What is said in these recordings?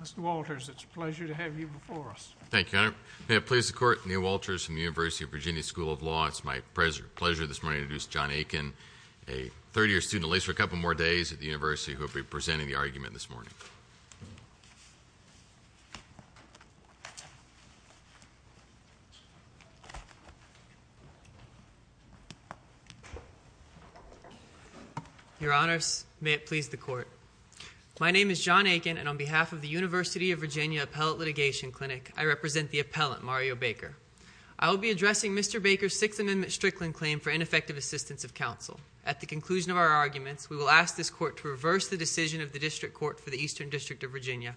Mr. Walters, it's a pleasure to have you before us. Thank you, Your Honor. May it please the Court, Neil Walters from the University of Virginia School of Law. It's my pleasure this morning to introduce John Aiken, a third-year student, at least for a couple more days at the University, who will be presenting the argument this morning. Your Honors, may it please the Court. My name is John Aiken, and on behalf of the University of Virginia Appellate Litigation Clinic, I represent the appellant, Mario Baker. I will be addressing Mr. Baker's Sixth Amendment Strickland claim for ineffective assistance of counsel. At the conclusion of our arguments, we will ask this Court to reverse the decision of the District Court for the Eastern District of Virginia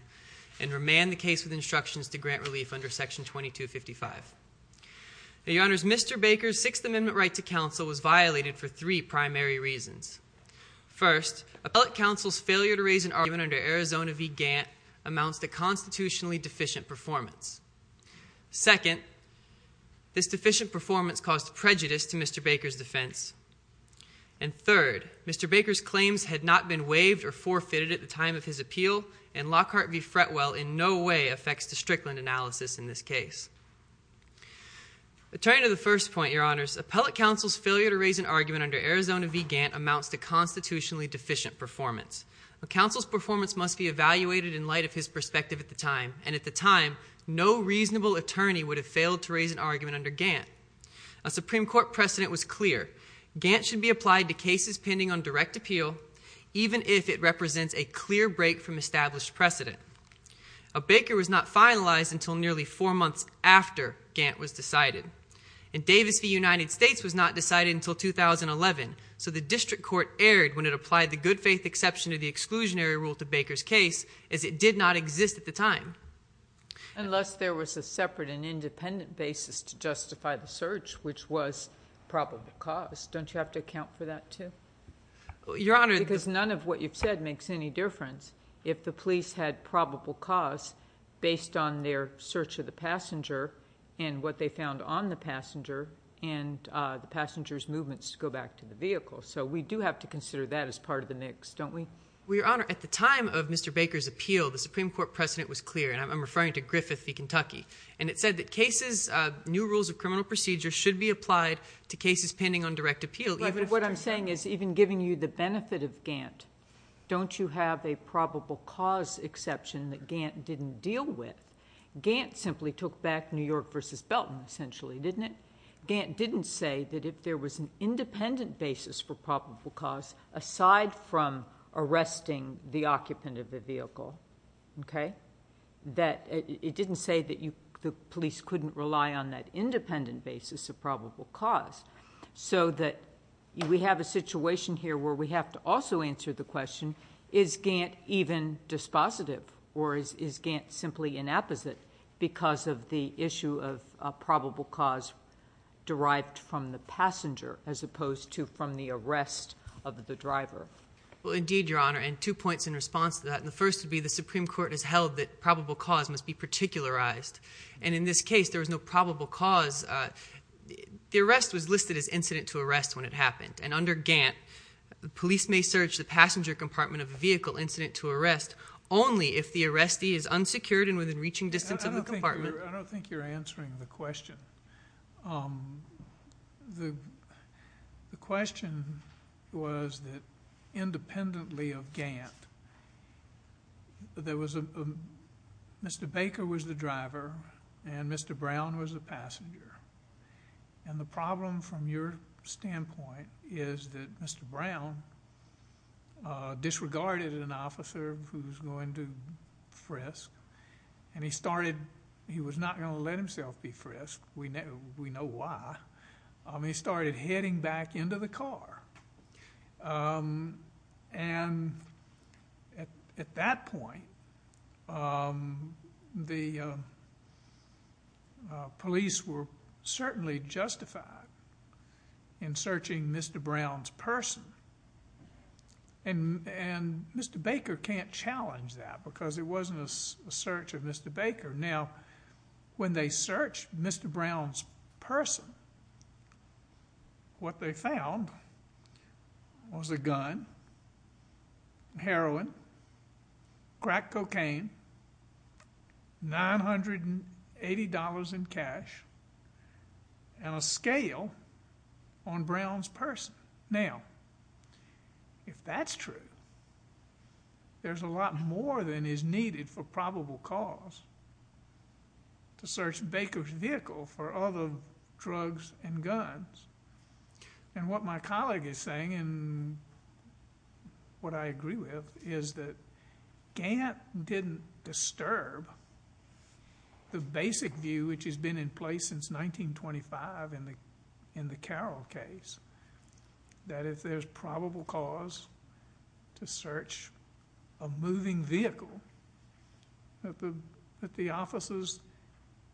and remand the case with instructions to grant relief under Section 2255. Your Honors, Mr. Baker's Sixth Amendment right to counsel was violated for three primary reasons. First, appellate counsel's failure to raise an argument under Arizona v. Gantt amounts to a constitutionally deficient performance. Second, this deficient performance caused prejudice to Mr. Baker's defense. And third, Mr. Baker's claims had not been waived or forfeited at the time of his appeal, and Lockhart v. Fretwell in no way affects the Strickland analysis in this case. Returning to the first point, Your Honors, appellate counsel's failure to raise an argument under Arizona v. Gantt amounts to constitutionally deficient performance. A counsel's performance must be evaluated in light of his perspective at the time, and at the time, no reasonable attorney would have failed to raise an argument under Gantt. A Supreme Court precedent was clear. Gantt should be applied to cases pending on direct appeal, even if it represents a clear break from established precedent. A Baker was not finalized until nearly four months after Gantt was decided. In Davis v. United States was not decided until 2011, so the district court erred when it applied the good-faith exception of the exclusionary rule to Baker's case, as it did not exist at the time. Unless there was a separate and independent basis to justify the search, which was probable cause. Don't you have to account for that, too? Your Honor, the Because none of what you've said makes any difference if the police had probable cause based on their search of the passenger and what they found on the passenger, and the passenger's movements to go back to the vehicle. So we do have to consider that as part of the mix, don't we? Well, Your Honor, at the time of Mr. Baker's appeal, the Supreme Court precedent was clear, and I'm referring to Griffith v. Kentucky, and it said that cases, new rules of criminal procedure should be applied to cases pending on direct appeal. But what I'm saying is, even giving you the benefit of Gantt, don't you have a probable cause exception that Gantt didn't deal with? Gantt simply took back New York v. Belton, essentially, didn't it? Gantt didn't say that if there was an independent basis for probable cause, aside from arresting the occupant of the vehicle, okay, that it didn't say that the police couldn't rely on that independent basis of probable cause, so that we have a situation here where we have to also answer the question, is Gantt even dispositive, or is Gantt simply inapposite, because of the issue of probable cause derived from the passenger, as opposed to from the arrest of the driver? Well, indeed, Your Honor, and two points in response to that. The first would be the Supreme Court has held that probable cause must be particularized, and in this case there was no probable cause. The arrest was listed as incident to arrest when it happened, and under Gantt, the police may search the passenger compartment of a vehicle incident to arrest only if the arrestee is unsecured and within reaching distance of the compartment. I don't think you're answering the question. The question was that independently of Gantt, there was a Mr. Baker was the driver and Mr. Brown was the passenger, and the problem from your standpoint is that Mr. Brown disregarded an officer who was going to frisk, and he started, he was not going to let himself be frisked. We know why. He started heading back into the car, and at that point, the police were certainly justified in searching Mr. Brown's person, and Mr. Baker can't challenge that because it wasn't a search of Mr. Baker. Now, when they searched Mr. Brown's person, what they found was a gun, heroin, crack cocaine, $980 in cash, and a scale on Brown's person. Now, if that's true, there's a lot more than is needed for probable cause to search Baker's vehicle for other drugs and guns, and what my colleague is saying and what I agree with is that Gantt didn't disturb the basic view which has been in place since 1925 in the Carroll case, that if there's probable cause to search a moving vehicle, that the officers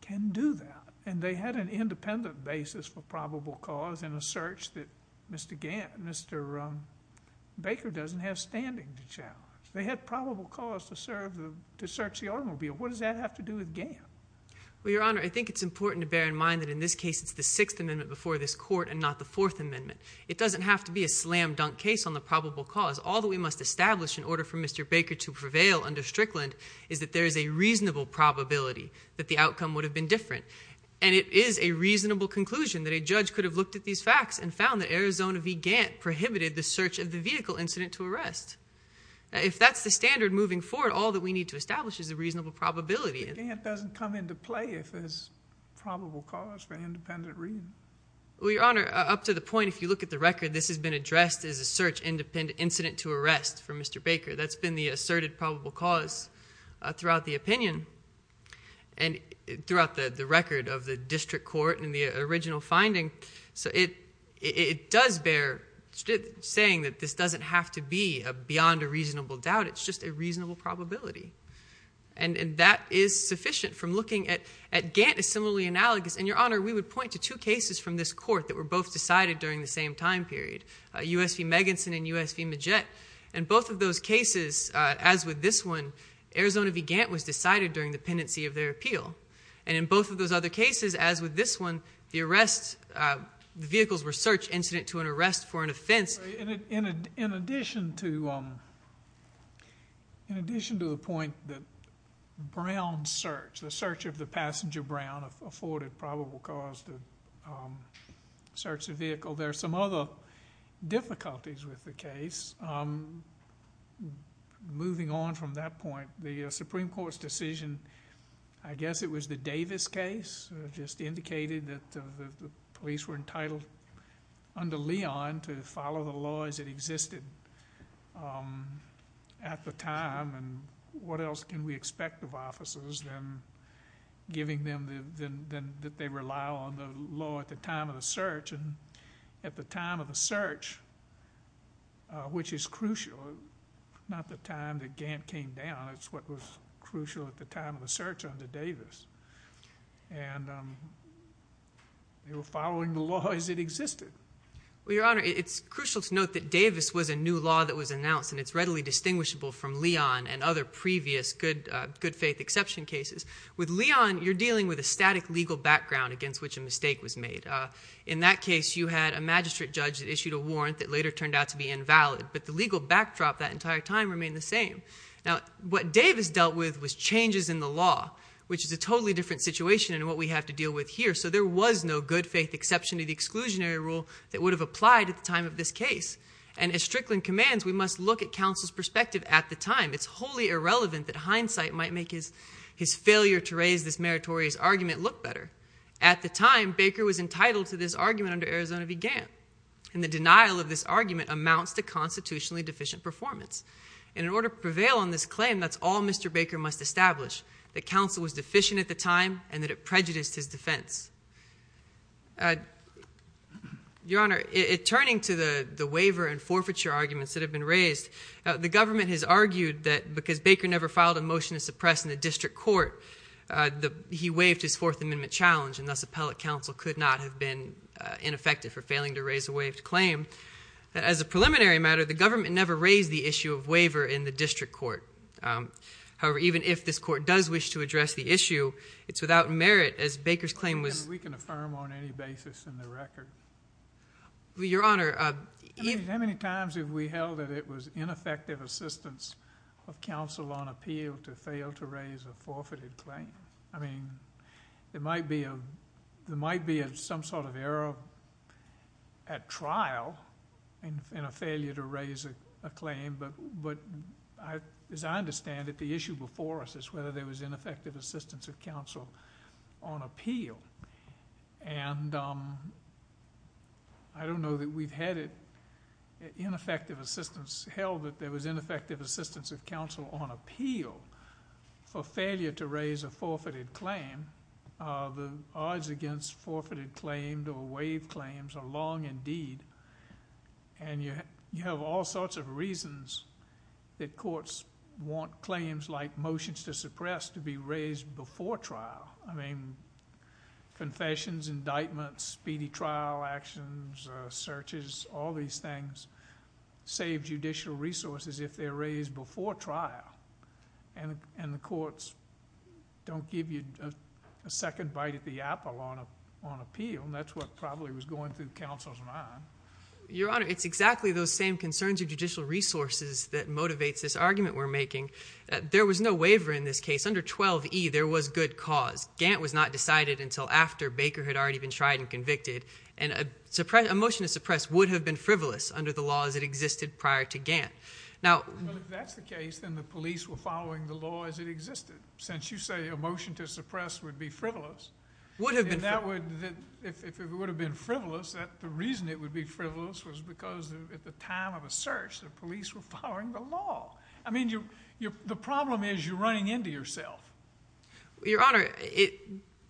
can do that, and they had an independent basis for probable cause in a search that Mr. Gantt, Mr. Baker doesn't have standing to challenge. They had probable cause to search the automobile. What does that have to do with Gantt? Well, Your Honor, I think it's important to bear in mind that in this case, it's the Sixth Amendment before this court and not the Fourth Amendment. It doesn't have to be a slam-dunk case on the probable cause. All that we must establish in order for Mr. Baker to prevail under Strickland is that there is a reasonable probability that the outcome would have been different, and it is a reasonable conclusion that a judge could have looked at these facts and found that Arizona v. Gantt prohibited the search of the vehicle incident to arrest. If that's the standard moving forward, all that we need to establish is a reasonable probability. But Gantt doesn't come into play if there's probable cause for an independent reason. Well, Your Honor, up to the point, if you look at the record, this has been addressed as a search incident to arrest for Mr. Baker. That's been the asserted probable cause throughout the opinion and throughout the record of the district court and the original finding. So it does bear saying that this doesn't have to be beyond a reasonable doubt. It's just a reasonable probability. And that is sufficient from looking at Gantt as similarly analogous. And, Your Honor, we would point to two cases from this court that were both decided during the same time period, U.S. v. Megenson and U.S. v. Majette. In both of those cases, as with this one, Arizona v. Gantt was decided during the pendency of their appeal. And in both of those other cases, as with this one, the arrest vehicles were search incident to an arrest for an offense. In addition to the point that Brown searched, the search of the passenger Brown afforded probable cause to search the vehicle, there are some other difficulties with the case. Moving on from that point, the Supreme Court's decision, I guess it was the Davis case, just indicated that the police were entitled under Leon to follow the laws that existed at the time. And what else can we expect of officers than giving them the— that they rely on the law at the time of the search? And at the time of the search, which is crucial, not the time that Gantt came down. It's what was crucial at the time of the search under Davis. And they were following the law as it existed. Well, Your Honor, it's crucial to note that Davis was a new law that was announced, and it's readily distinguishable from Leon and other previous good faith exception cases. With Leon, you're dealing with a static legal background against which a mistake was made. In that case, you had a magistrate judge that issued a warrant that later turned out to be invalid, but the legal backdrop that entire time remained the same. Now, what Davis dealt with was changes in the law, which is a totally different situation than what we have to deal with here. So there was no good faith exception to the exclusionary rule that would have applied at the time of this case. And as Strickland commands, we must look at counsel's perspective at the time. It's wholly irrelevant that hindsight might make his failure to raise this meritorious argument look better. At the time, Baker was entitled to this argument under Arizona v. Gantt. And the denial of this argument amounts to constitutionally deficient performance. And in order to prevail on this claim, that's all Mr. Baker must establish, that counsel was deficient at the time and that it prejudiced his defense. Your Honor, turning to the waiver and forfeiture arguments that have been raised, the government has argued that because Baker never filed a motion to suppress in the district court, he waived his Fourth Amendment challenge, and thus appellate counsel could not have been ineffective for failing to raise a waived claim. As a preliminary matter, the government never raised the issue of waiver in the district court. However, even if this court does wish to address the issue, it's without merit, as Baker's claim was. We can affirm on any basis in the record. Your Honor. How many times have we held that it was ineffective assistance of counsel on appeal to fail to raise a forfeited claim? I mean, there might be some sort of error at trial in a failure to raise a claim, but as I understand it, the issue before us is whether there was ineffective assistance of counsel on appeal. And I don't know that we've had ineffective assistance. We've held that there was ineffective assistance of counsel on appeal for failure to raise a forfeited claim. The odds against forfeited claims or waived claims are long indeed, and you have all sorts of reasons that courts want claims like motions to suppress to be raised before trial. I mean, confessions, indictments, speedy trial actions, searches, all these things, save judicial resources if they're raised before trial, and the courts don't give you a second bite at the apple on appeal, and that's what probably was going through counsel's mind. Your Honor, it's exactly those same concerns of judicial resources that motivates this argument we're making. There was no waiver in this case. Under 12E, there was good cause. Gant was not decided until after Baker had already been tried and convicted, and a motion to suppress would have been frivolous under the law as it existed prior to Gant. Well, if that's the case, then the police were following the law as it existed, since you say a motion to suppress would be frivolous. Would have been frivolous. If it would have been frivolous, the reason it would be frivolous was because at the time of a search, the police were following the law. I mean, the problem is you're running into yourself. Your Honor,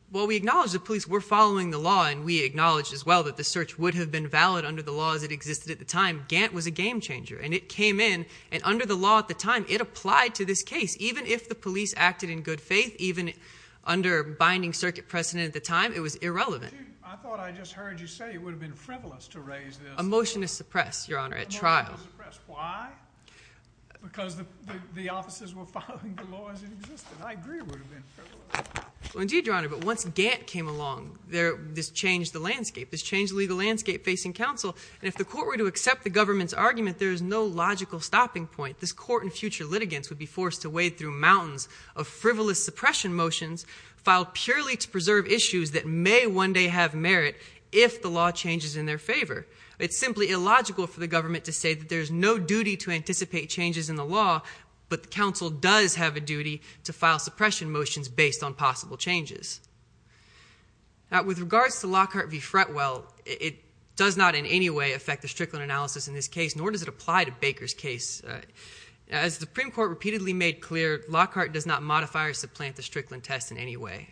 while we acknowledge the police were following the law, and we acknowledge as well that the search would have been valid under the law as it existed at the time, Gant was a game changer, and it came in, and under the law at the time, it applied to this case. Even if the police acted in good faith, even under binding circuit precedent at the time, it was irrelevant. I thought I just heard you say it would have been frivolous to raise this. A motion to suppress, Your Honor, at trial. A motion to suppress. Why? Because the officers were following the law as it existed. I agree it would have been frivolous. Indeed, Your Honor, but once Gant came along, this changed the landscape. This changed the legal landscape facing counsel, and if the court were to accept the government's argument, there is no logical stopping point. This court and future litigants would be forced to wade through mountains of frivolous suppression motions filed purely to preserve issues that may one day have merit if the law changes in their favor. It's simply illogical for the government to say that there's no duty to anticipate changes in the law, but the counsel does have a duty to file suppression motions based on possible changes. With regards to Lockhart v. Fretwell, it does not in any way affect the Strickland analysis in this case, nor does it apply to Baker's case. As the Supreme Court repeatedly made clear, Lockhart does not modify or supplant the Strickland test in any way.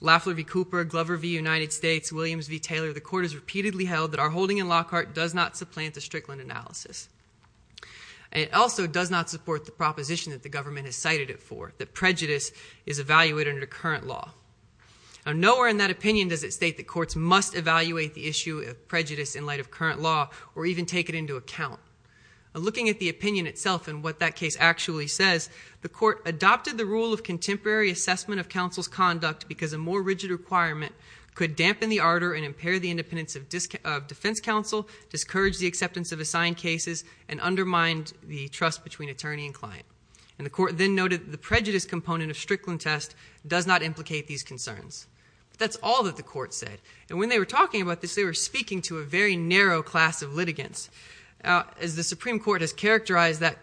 Lafler v. Cooper, Glover v. United States, Williams v. Taylor, the court has repeatedly held that our holding in Lockhart does not supplant the Strickland analysis. It also does not support the proposition that the government has cited it for, that prejudice is evaluated under current law. Now, nowhere in that opinion does it state that courts must evaluate the issue of prejudice in light of current law or even take it into account. Looking at the opinion itself and what that case actually says, the court adopted the rule of contemporary assessment of counsel's conduct because a more rigid requirement could dampen the ardor and impair the independence of defense counsel, discourage the acceptance of assigned cases, and undermine the trust between attorney and client. And the court then noted the prejudice component of Strickland test does not implicate these concerns. That's all that the court said. And when they were talking about this, they were speaking to a very narrow class of litigants. As the Supreme Court has characterized that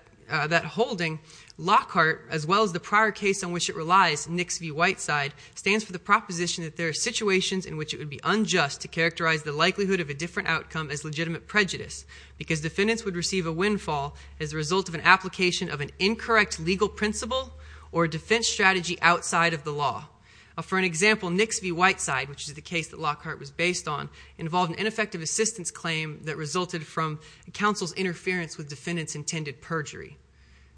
holding, Lockhart, as well as the prior case on which it relies, Nix v. Whiteside, stands for the proposition that there are situations in which it would be unjust to characterize the likelihood of a different outcome as legitimate prejudice because defendants would receive a windfall as a result of an application of an incorrect legal principle or a defense strategy outside of the law. For an example, Nix v. Whiteside, which is the case that Lockhart was based on, involved an ineffective assistance claim that resulted from counsel's interference with defendants' intended perjury.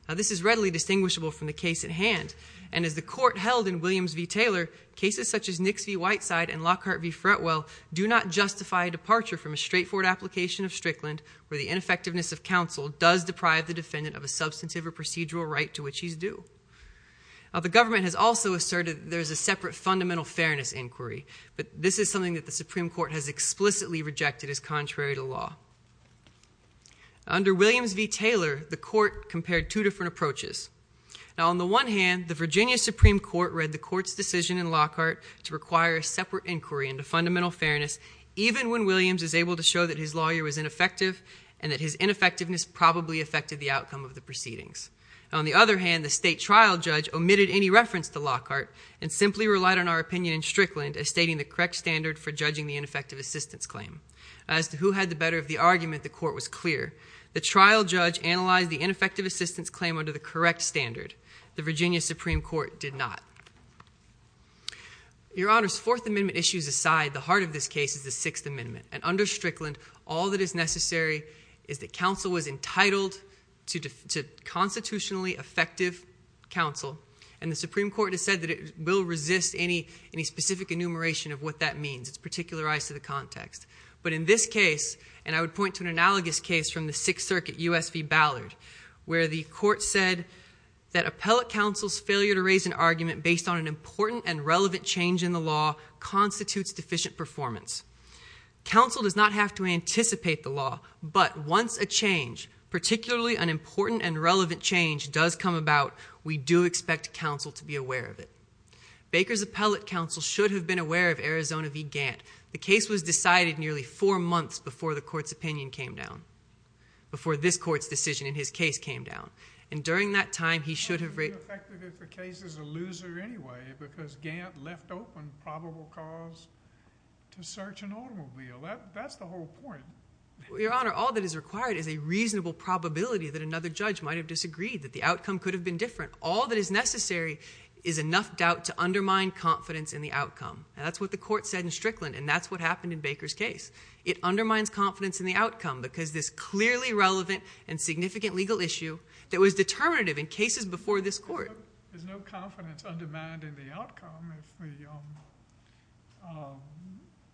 Now, this is readily distinguishable from the case at hand. And as the court held in Williams v. Taylor, cases such as Nix v. Whiteside and Lockhart v. Fretwell do not justify a departure from a straightforward application of Strickland where the ineffectiveness of counsel does deprive the defendant of a substantive or procedural right to which he's due. Now, the government has also asserted there's a separate fundamental fairness inquiry, but this is something that the Supreme Court has explicitly rejected as contrary to law. Under Williams v. Taylor, the court compared two different approaches. Now, on the one hand, the Virginia Supreme Court read the court's decision in Lockhart to require a separate inquiry into fundamental fairness even when Williams is able to show that his lawyer was ineffective and that his ineffectiveness probably affected the outcome of the proceedings. On the other hand, the state trial judge omitted any reference to Lockhart and simply relied on our opinion in Strickland as stating the correct standard for judging the ineffective assistance claim. As to who had the better of the argument, the court was clear. The trial judge analyzed the ineffective assistance claim under the correct standard. The Virginia Supreme Court did not. Your Honors, Fourth Amendment issues aside, the heart of this case is the Sixth Amendment, and under Strickland, all that is necessary is that counsel was entitled to constitutionally effective counsel, and the Supreme Court has said that it will resist any specific enumeration of what that means. It's particularized to the context. But in this case, and I would point to an analogous case from the Sixth Circuit, U.S. v. Ballard, where the court said that appellate counsel's failure to raise an argument based on an important and relevant change in the law constitutes deficient performance. Counsel does not have to anticipate the law, but once a change, particularly an important and relevant change, does come about, we do expect counsel to be aware of it. Baker's appellate counsel should have been aware of Arizona v. Gantt. The case was decided nearly four months before the court's opinion came down, before this court's decision in his case came down. And during that time, he should have raised it. How do you do effectively if the case is a loser anyway, because Gantt left open probable cause to search an automobile? That's the whole point. Your Honor, all that is required is a reasonable probability that another judge might have disagreed, that the outcome could have been different. All that is necessary is enough doubt to undermine confidence in the outcome. That's what the court said in Strickland, and that's what happened in Baker's case. It undermines confidence in the outcome because this clearly relevant and significant legal issue that was determinative in cases before this court. There's no confidence undermined in the outcome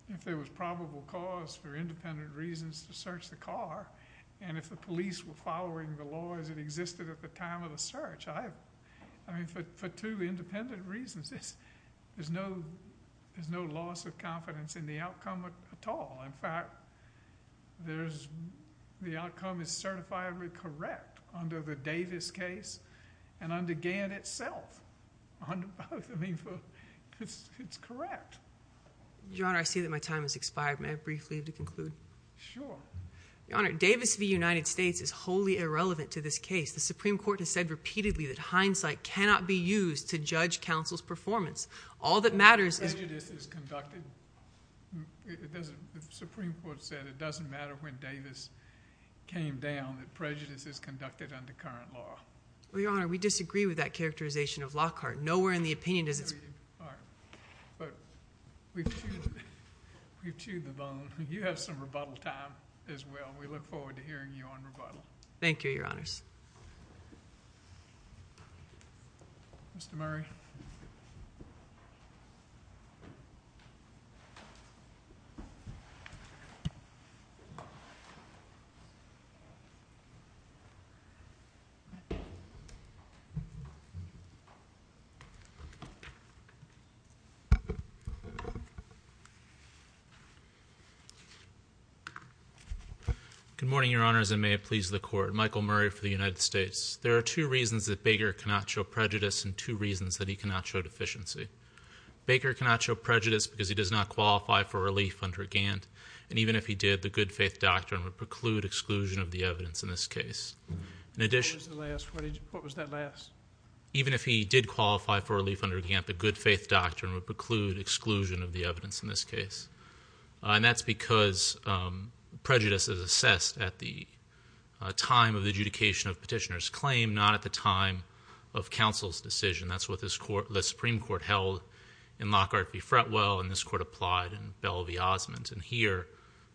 if there was probable cause for independent reasons to search the car, and if the police were following the law as it existed at the time of the search. For two independent reasons, there's no loss of confidence in the outcome at all. In fact, the outcome is certifiably correct under the Davis case and under Gantt itself. It's correct. Your Honor, I see that my time has expired. May I briefly conclude? Sure. Your Honor, Davis v. United States is wholly irrelevant to this case. The Supreme Court has said repeatedly that hindsight cannot be used to judge counsel's performance. All that matters is— Well, prejudice is conducted. The Supreme Court said it doesn't matter when Davis came down, that prejudice is conducted under current law. Well, Your Honor, we disagree with that characterization of Lockhart. Nowhere in the opinion does it— But we've chewed the bone. You have some rebuttal time as well, and we look forward to hearing you on rebuttal. Thank you, Your Honors. Mr. Murray. Mr. Murray. Good morning, Your Honors, and may it please the Court. Michael Murray for the United States. There are two reasons that Baker cannot show prejudice and two reasons that he cannot show deficiency. Baker cannot show prejudice because he does not qualify for relief under Gantt, and even if he did, the good faith doctrine would preclude exclusion of the evidence in this case. What was that last? Even if he did qualify for relief under Gantt, the good faith doctrine would preclude exclusion of the evidence in this case. And that's because prejudice is assessed at the time of adjudication of petitioner's claim, not at the time of counsel's decision. That's what the Supreme Court held in Lockhart v. Fretwell, and this Court applied in Bell v. Osmond. And here,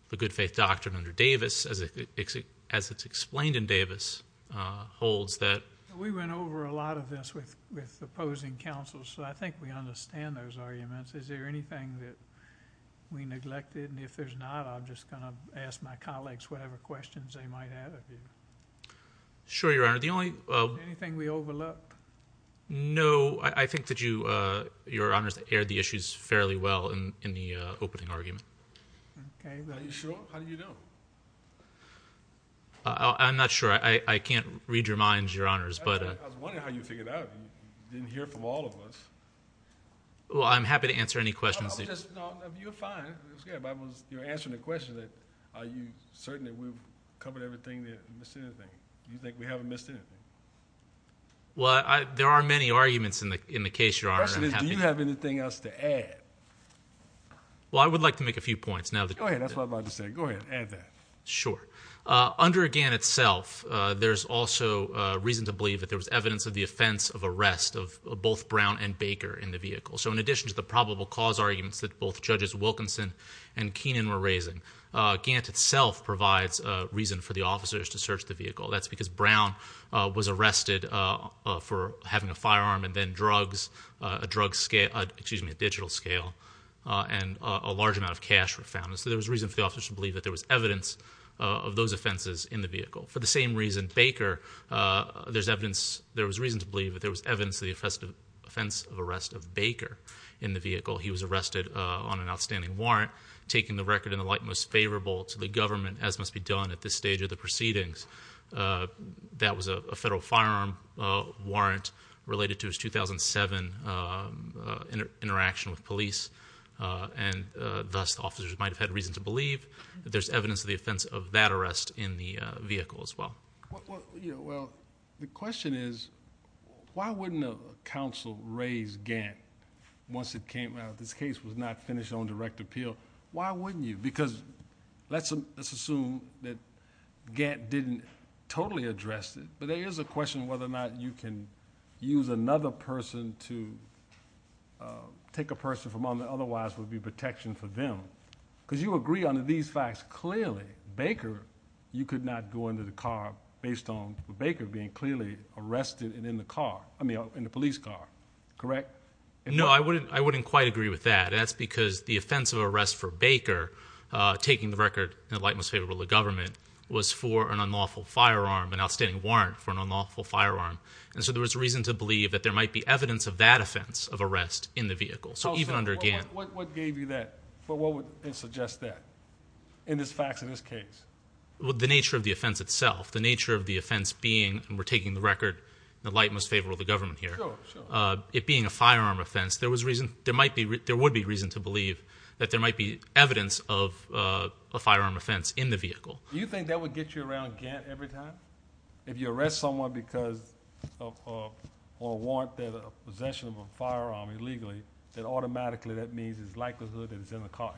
the good faith doctrine under Davis, as it's explained in Davis, holds that— We went over a lot of this with opposing counsels, so I think we understand those arguments. Is there anything that we neglected? And if there's not, I'm just going to ask my colleagues whatever questions they might have of you. Sure, Your Honor. Anything we overlooked? No. I think that Your Honors aired the issues fairly well in the opening argument. Are you sure? How did you know? I'm not sure. I can't read your minds, Your Honors. I was wondering how you figured that out. You didn't hear from all of us. Well, I'm happy to answer any questions. No, you're fine. You're answering the question that are you certain that we've covered everything, that we missed anything. Do you think we haven't missed anything? Well, there are many arguments in the case, Your Honor. The question is, do you have anything else to add? Well, I would like to make a few points. Go ahead. That's what I'm about to say. Go ahead. Add that. Sure. Under Gant itself, there's also reason to believe that there was evidence of the offense of arrest of both Brown and Baker in the vehicle. So in addition to the probable cause arguments that both Judges Wilkinson and Keenan were raising, Gant itself provides reason for the officers to search the vehicle. That's because Brown was arrested for having a firearm and then drugs, a digital scale, and a large amount of cash were found. So there was reason for the officers to believe that there was evidence of those offenses in the vehicle. For the same reason, Baker, there was reason to believe that there was evidence of the offense of arrest of Baker in the vehicle. He was arrested on an outstanding warrant, taking the record in the light most favorable to the government, as must be done at this stage of the proceedings. That was a federal firearm warrant related to his 2007 interaction with police, and thus the officers might have had reason to believe that there's evidence of the offense of that arrest in the vehicle as well. Well, the question is, why wouldn't a counsel raise Gant once it came out that this case was not finished on direct appeal? Why wouldn't you? Because let's assume that Gant didn't totally address it, but there is a question whether or not you can use another person to take a person from them that otherwise would be protection for them. Because you agree on these facts clearly. Baker, you could not go into the car based on Baker being clearly arrested and in the car, I mean, in the police car. Correct? No, I wouldn't quite agree with that. That's because the offense of arrest for Baker, taking the record in the light most favorable to the government, was for an unlawful firearm, an outstanding warrant for an unlawful firearm. And so there was reason to believe that there might be evidence of that offense of arrest in the vehicle. So even under Gant. What gave you that? What would suggest that in the facts of this case? Well, the nature of the offense itself. The nature of the offense being, and we're taking the record in the light most favorable to the government here. Sure, sure. It being a firearm offense, there would be reason to believe that there might be evidence of a firearm offense in the vehicle. Do you think that would get you around Gant every time? If you arrest someone because of a warrant that a possession of a firearm illegally, then automatically that means it's likelihood that it's in the car.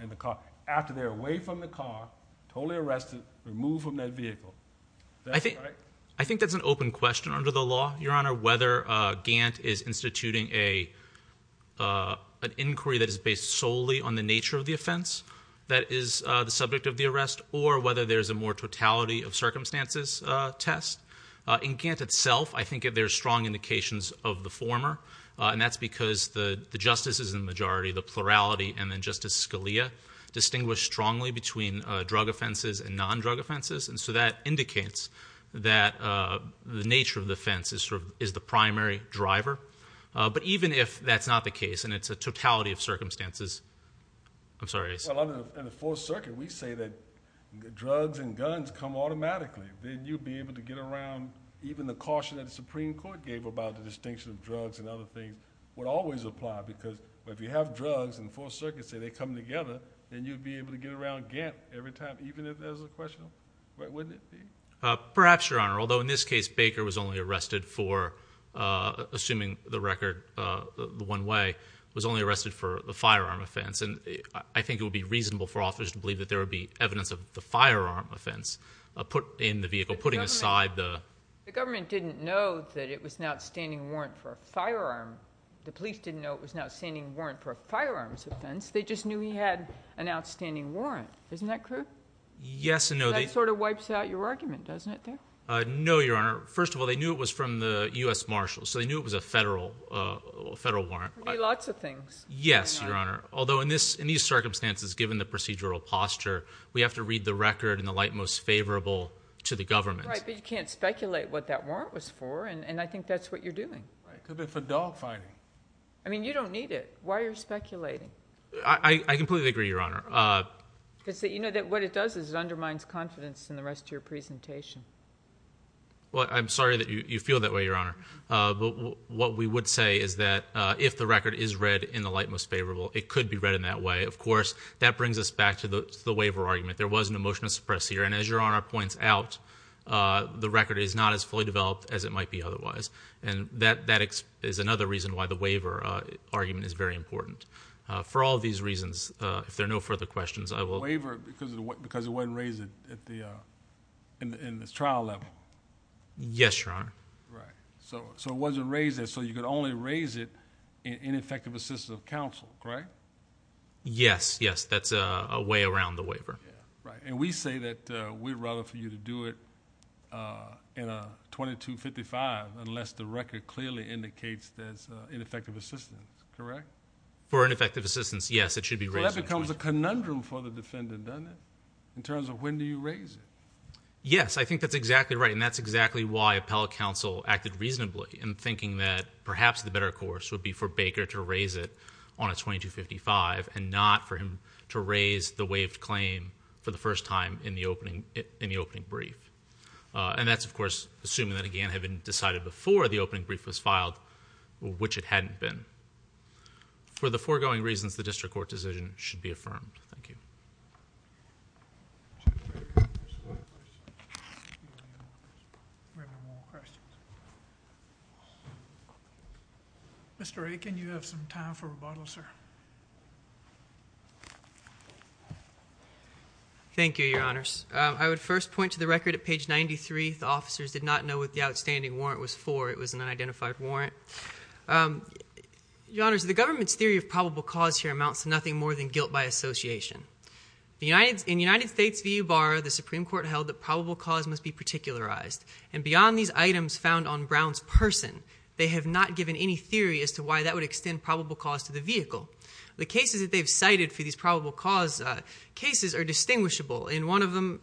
After they're away from the car, totally arrested, removed from that vehicle. It doesn't matter whether Gant is instituting an inquiry that is based solely on the nature of the offense that is the subject of the arrest, or whether there's a more totality of circumstances test. In Gant itself, I think there are strong indications of the former, and that's because the justices in the majority, the plurality, and then Justice Scalia, distinguish strongly between drug offenses and non-drug offenses. And so that indicates that the nature of the offense is the primary driver. But even if that's not the case, and it's a totality of circumstances, I'm sorry. Well, under the Fourth Circuit, we say that drugs and guns come automatically. Then you'd be able to get around even the caution that the Supreme Court gave about the distinction of drugs and other things would always apply. Because if you have drugs and the Fourth Circuit say they come together, then you'd be able to get around Gant every time, even if there's a question. Wouldn't it be? Perhaps, Your Honor. Although in this case Baker was only arrested for, assuming the record the one way, was only arrested for the firearm offense. And I think it would be reasonable for authors to believe that there would be evidence of the firearm offense in the vehicle, putting aside the— The government didn't know that it was an outstanding warrant for a firearm. The police didn't know it was an outstanding warrant for a firearms offense. They just knew he had an outstanding warrant. Isn't that correct? Yes and no. That sort of wipes out your argument, doesn't it, there? No, Your Honor. First of all, they knew it was from the U.S. Marshals, so they knew it was a federal warrant. Lots of things. Yes, Your Honor. Although in these circumstances, given the procedural posture, we have to read the record in the light most favorable to the government. Right, but you can't speculate what that warrant was for, and I think that's what you're doing. It could have been for dog fighting. I mean, you don't need it. Why are you speculating? I completely agree, Your Honor. Because, you know, what it does is it undermines confidence in the rest of your presentation. Well, I'm sorry that you feel that way, Your Honor. But what we would say is that if the record is read in the light most favorable, it could be read in that way. Of course, that brings us back to the waiver argument. There was an emotional suppress here, and as Your Honor points out, the record is not as fully developed as it might be otherwise. And that is another reason why the waiver argument is very important. For all these reasons, if there are no further questions, I will. The waiver, because it wasn't raised in this trial level. Yes, Your Honor. Right. So it wasn't raised there, so you could only raise it in effective assistance of counsel, right? Yes, yes. That's a way around the waiver. Right. And we say that we'd rather for you to do it in a 2255 unless the record clearly indicates there's ineffective assistance, correct? For ineffective assistance, yes, it should be raised. Well, that becomes a conundrum for the defendant, doesn't it, in terms of when do you raise it? Yes, I think that's exactly right. And that's exactly why appellate counsel acted reasonably in thinking that perhaps the better course would be for Baker to raise it on a 2255 and not for him to raise the waived claim for the first time in the opening brief. And that's, of course, assuming that, again, it had been decided before the opening brief was filed, which it hadn't been. For the foregoing reasons, the district court decision should be affirmed. Thank you. Mr. Aiken, you have some time for rebuttal, sir. Thank you, Your Honors. I would first point to the record at page 93. The officers did not know what the outstanding warrant was for. It was an unidentified warrant. Your Honors, the government's theory of probable cause here amounts to nothing more than guilt by association. In the United States V.U. Bar, the Supreme Court held that probable cause must be particularized. And beyond these items found on Brown's person, they have not given any theory as to why that would extend probable cause to the vehicle. The cases that they've cited for these probable cause cases are distinguishable. In one of them,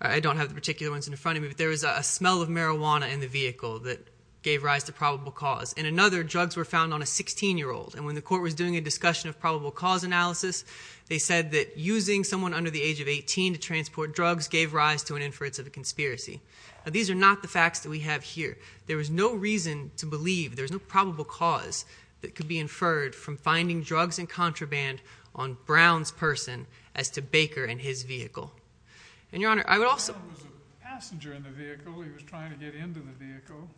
I don't have the particular ones in front of me, but there was a smell of marijuana in the vehicle that gave rise to probable cause. In another, drugs were found on a 16-year-old. And when the court was doing a discussion of probable cause analysis, they said that using someone under the age of 18 to transport drugs gave rise to an inference of a conspiracy. Now, these are not the facts that we have here. There was no reason to believe there was no probable cause that could be inferred from finding drugs and contraband on Brown's person as to Baker and his vehicle. And, Your Honor, I would also— Brown was a passenger in the vehicle. He was trying to get into the vehicle.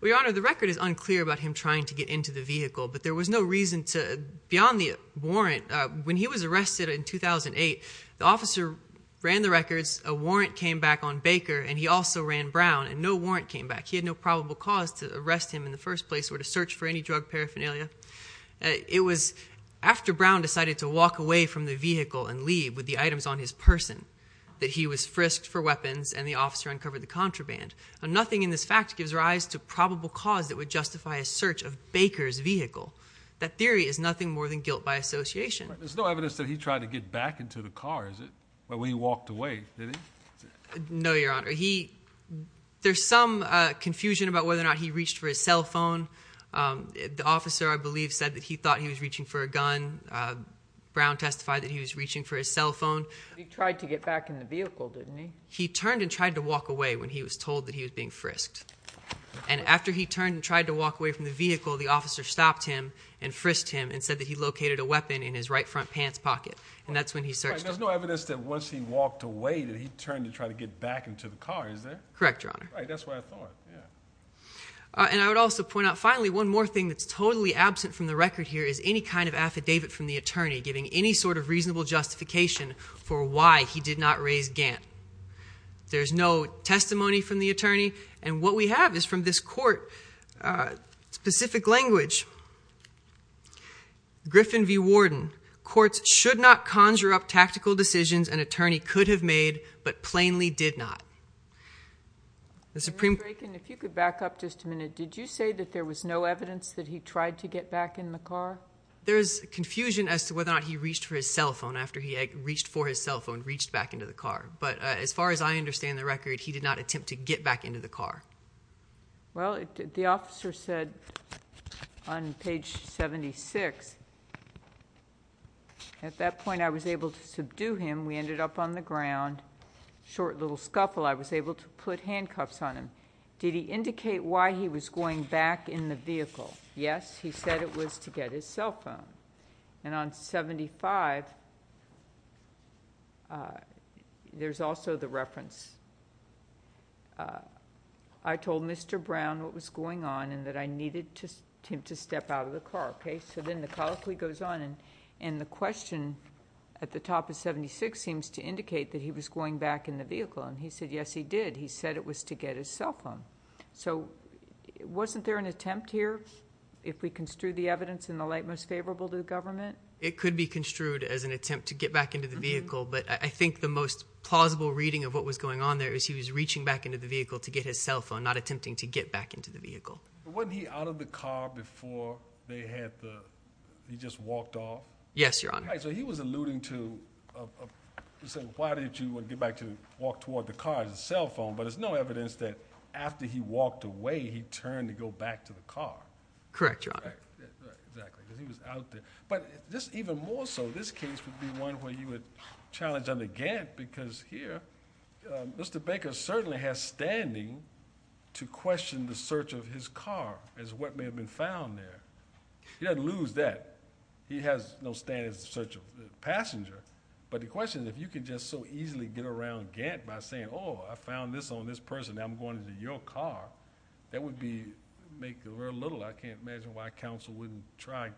Well, Your Honor, the record is unclear about him trying to get into the vehicle, but there was no reason to—beyond the warrant. When he was arrested in 2008, the officer ran the records. A warrant came back on Baker, and he also ran Brown, and no warrant came back. He had no probable cause to arrest him in the first place or to search for any drug paraphernalia. It was after Brown decided to walk away from the vehicle and leave with the items on his person that he was frisked for weapons, and the officer uncovered the contraband. Nothing in this fact gives rise to probable cause that would justify a search of Baker's vehicle. That theory is nothing more than guilt by association. There's no evidence that he tried to get back into the car, is it, when he walked away, did he? No, Your Honor. He—there's some confusion about whether or not he reached for his cell phone. The officer, I believe, said that he thought he was reaching for a gun. Brown testified that he was reaching for his cell phone. He tried to get back in the vehicle, didn't he? He turned and tried to walk away when he was told that he was being frisked. And after he turned and tried to walk away from the vehicle, the officer stopped him and frisked him and said that he located a weapon in his right front pants pocket, and that's when he searched. There's no evidence that once he walked away that he turned to try to get back into the car, is there? Correct, Your Honor. Right, that's what I thought, yeah. And I would also point out, finally, one more thing that's totally absent from the record here is any kind of affidavit from the attorney giving any sort of reasonable justification for why he did not raise Gant. There's no testimony from the attorney, and what we have is from this court specific language. Griffin v. Warden, courts should not conjure up tactical decisions an attorney could have made but plainly did not. Mr. Draken, if you could back up just a minute, did you say that there was no evidence that he tried to get back in the car? There is confusion as to whether or not he reached for his cell phone after he reached for his cell phone, reached back into the car. But as far as I understand the record, he did not attempt to get back into the car. Well, the officer said on page 76, at that point I was able to subdue him. We ended up on the ground, short little scuffle. I was able to put handcuffs on him. Did he indicate why he was going back in the vehicle? Yes, he said it was to get his cell phone. And on 75, there's also the reference, I told Mr. Brown what was going on and that I needed him to step out of the car, okay? So then the colloquy goes on, and the question at the top of 76 seems to indicate that he was going back in the vehicle. And he said, yes, he did. He said it was to get his cell phone. So wasn't there an attempt here if we construe the evidence in the light most favorable to the government? It could be construed as an attempt to get back into the vehicle, but I think the most plausible reading of what was going on there is he was reaching back into the vehicle to get his cell phone, not attempting to get back into the vehicle. But wasn't he out of the car before they had the, he just walked off? Yes, Your Honor. All right, so he was alluding to, he said, why did you get back to walk toward the car and the cell phone? But there's no evidence that after he walked away, he turned to go back to the car. Correct, Your Honor. Right, exactly, because he was out there. But this, even more so, this case would be one where you would challenge under Gant because here, Mr. Baker certainly has standing to question the search of his car as to what may have been found there. He doesn't lose that. He has no standing to search the passenger. But the question is, if you could just so easily get around Gant by saying, oh, I found this on this person, now I'm going to your car, that would be, make very little. I can't imagine why counsel wouldn't try to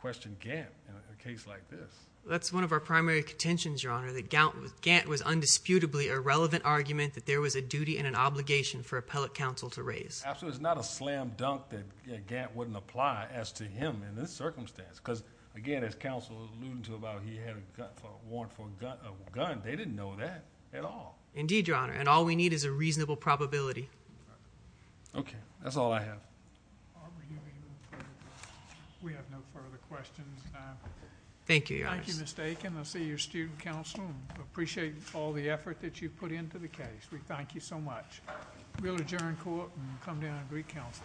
question Gant in a case like this. That's one of our primary contentions, Your Honor, that Gant was undisputably a relevant argument that there was a duty and an obligation for appellate counsel to raise. Absolutely. It's not a slam dunk that Gant wouldn't apply as to him in this circumstance. Because, again, as counsel alluded to about he had a warrant for a gun, they didn't know that at all. Indeed, Your Honor, and all we need is a reasonable probability. Okay, that's all I have. We have no further questions. Thank you, Your Honor. Thank you, Ms. Dakin. I'll see your student counsel. I appreciate all the effort that you've put into the case. We thank you so much. We'll adjourn court and come down and recounsel.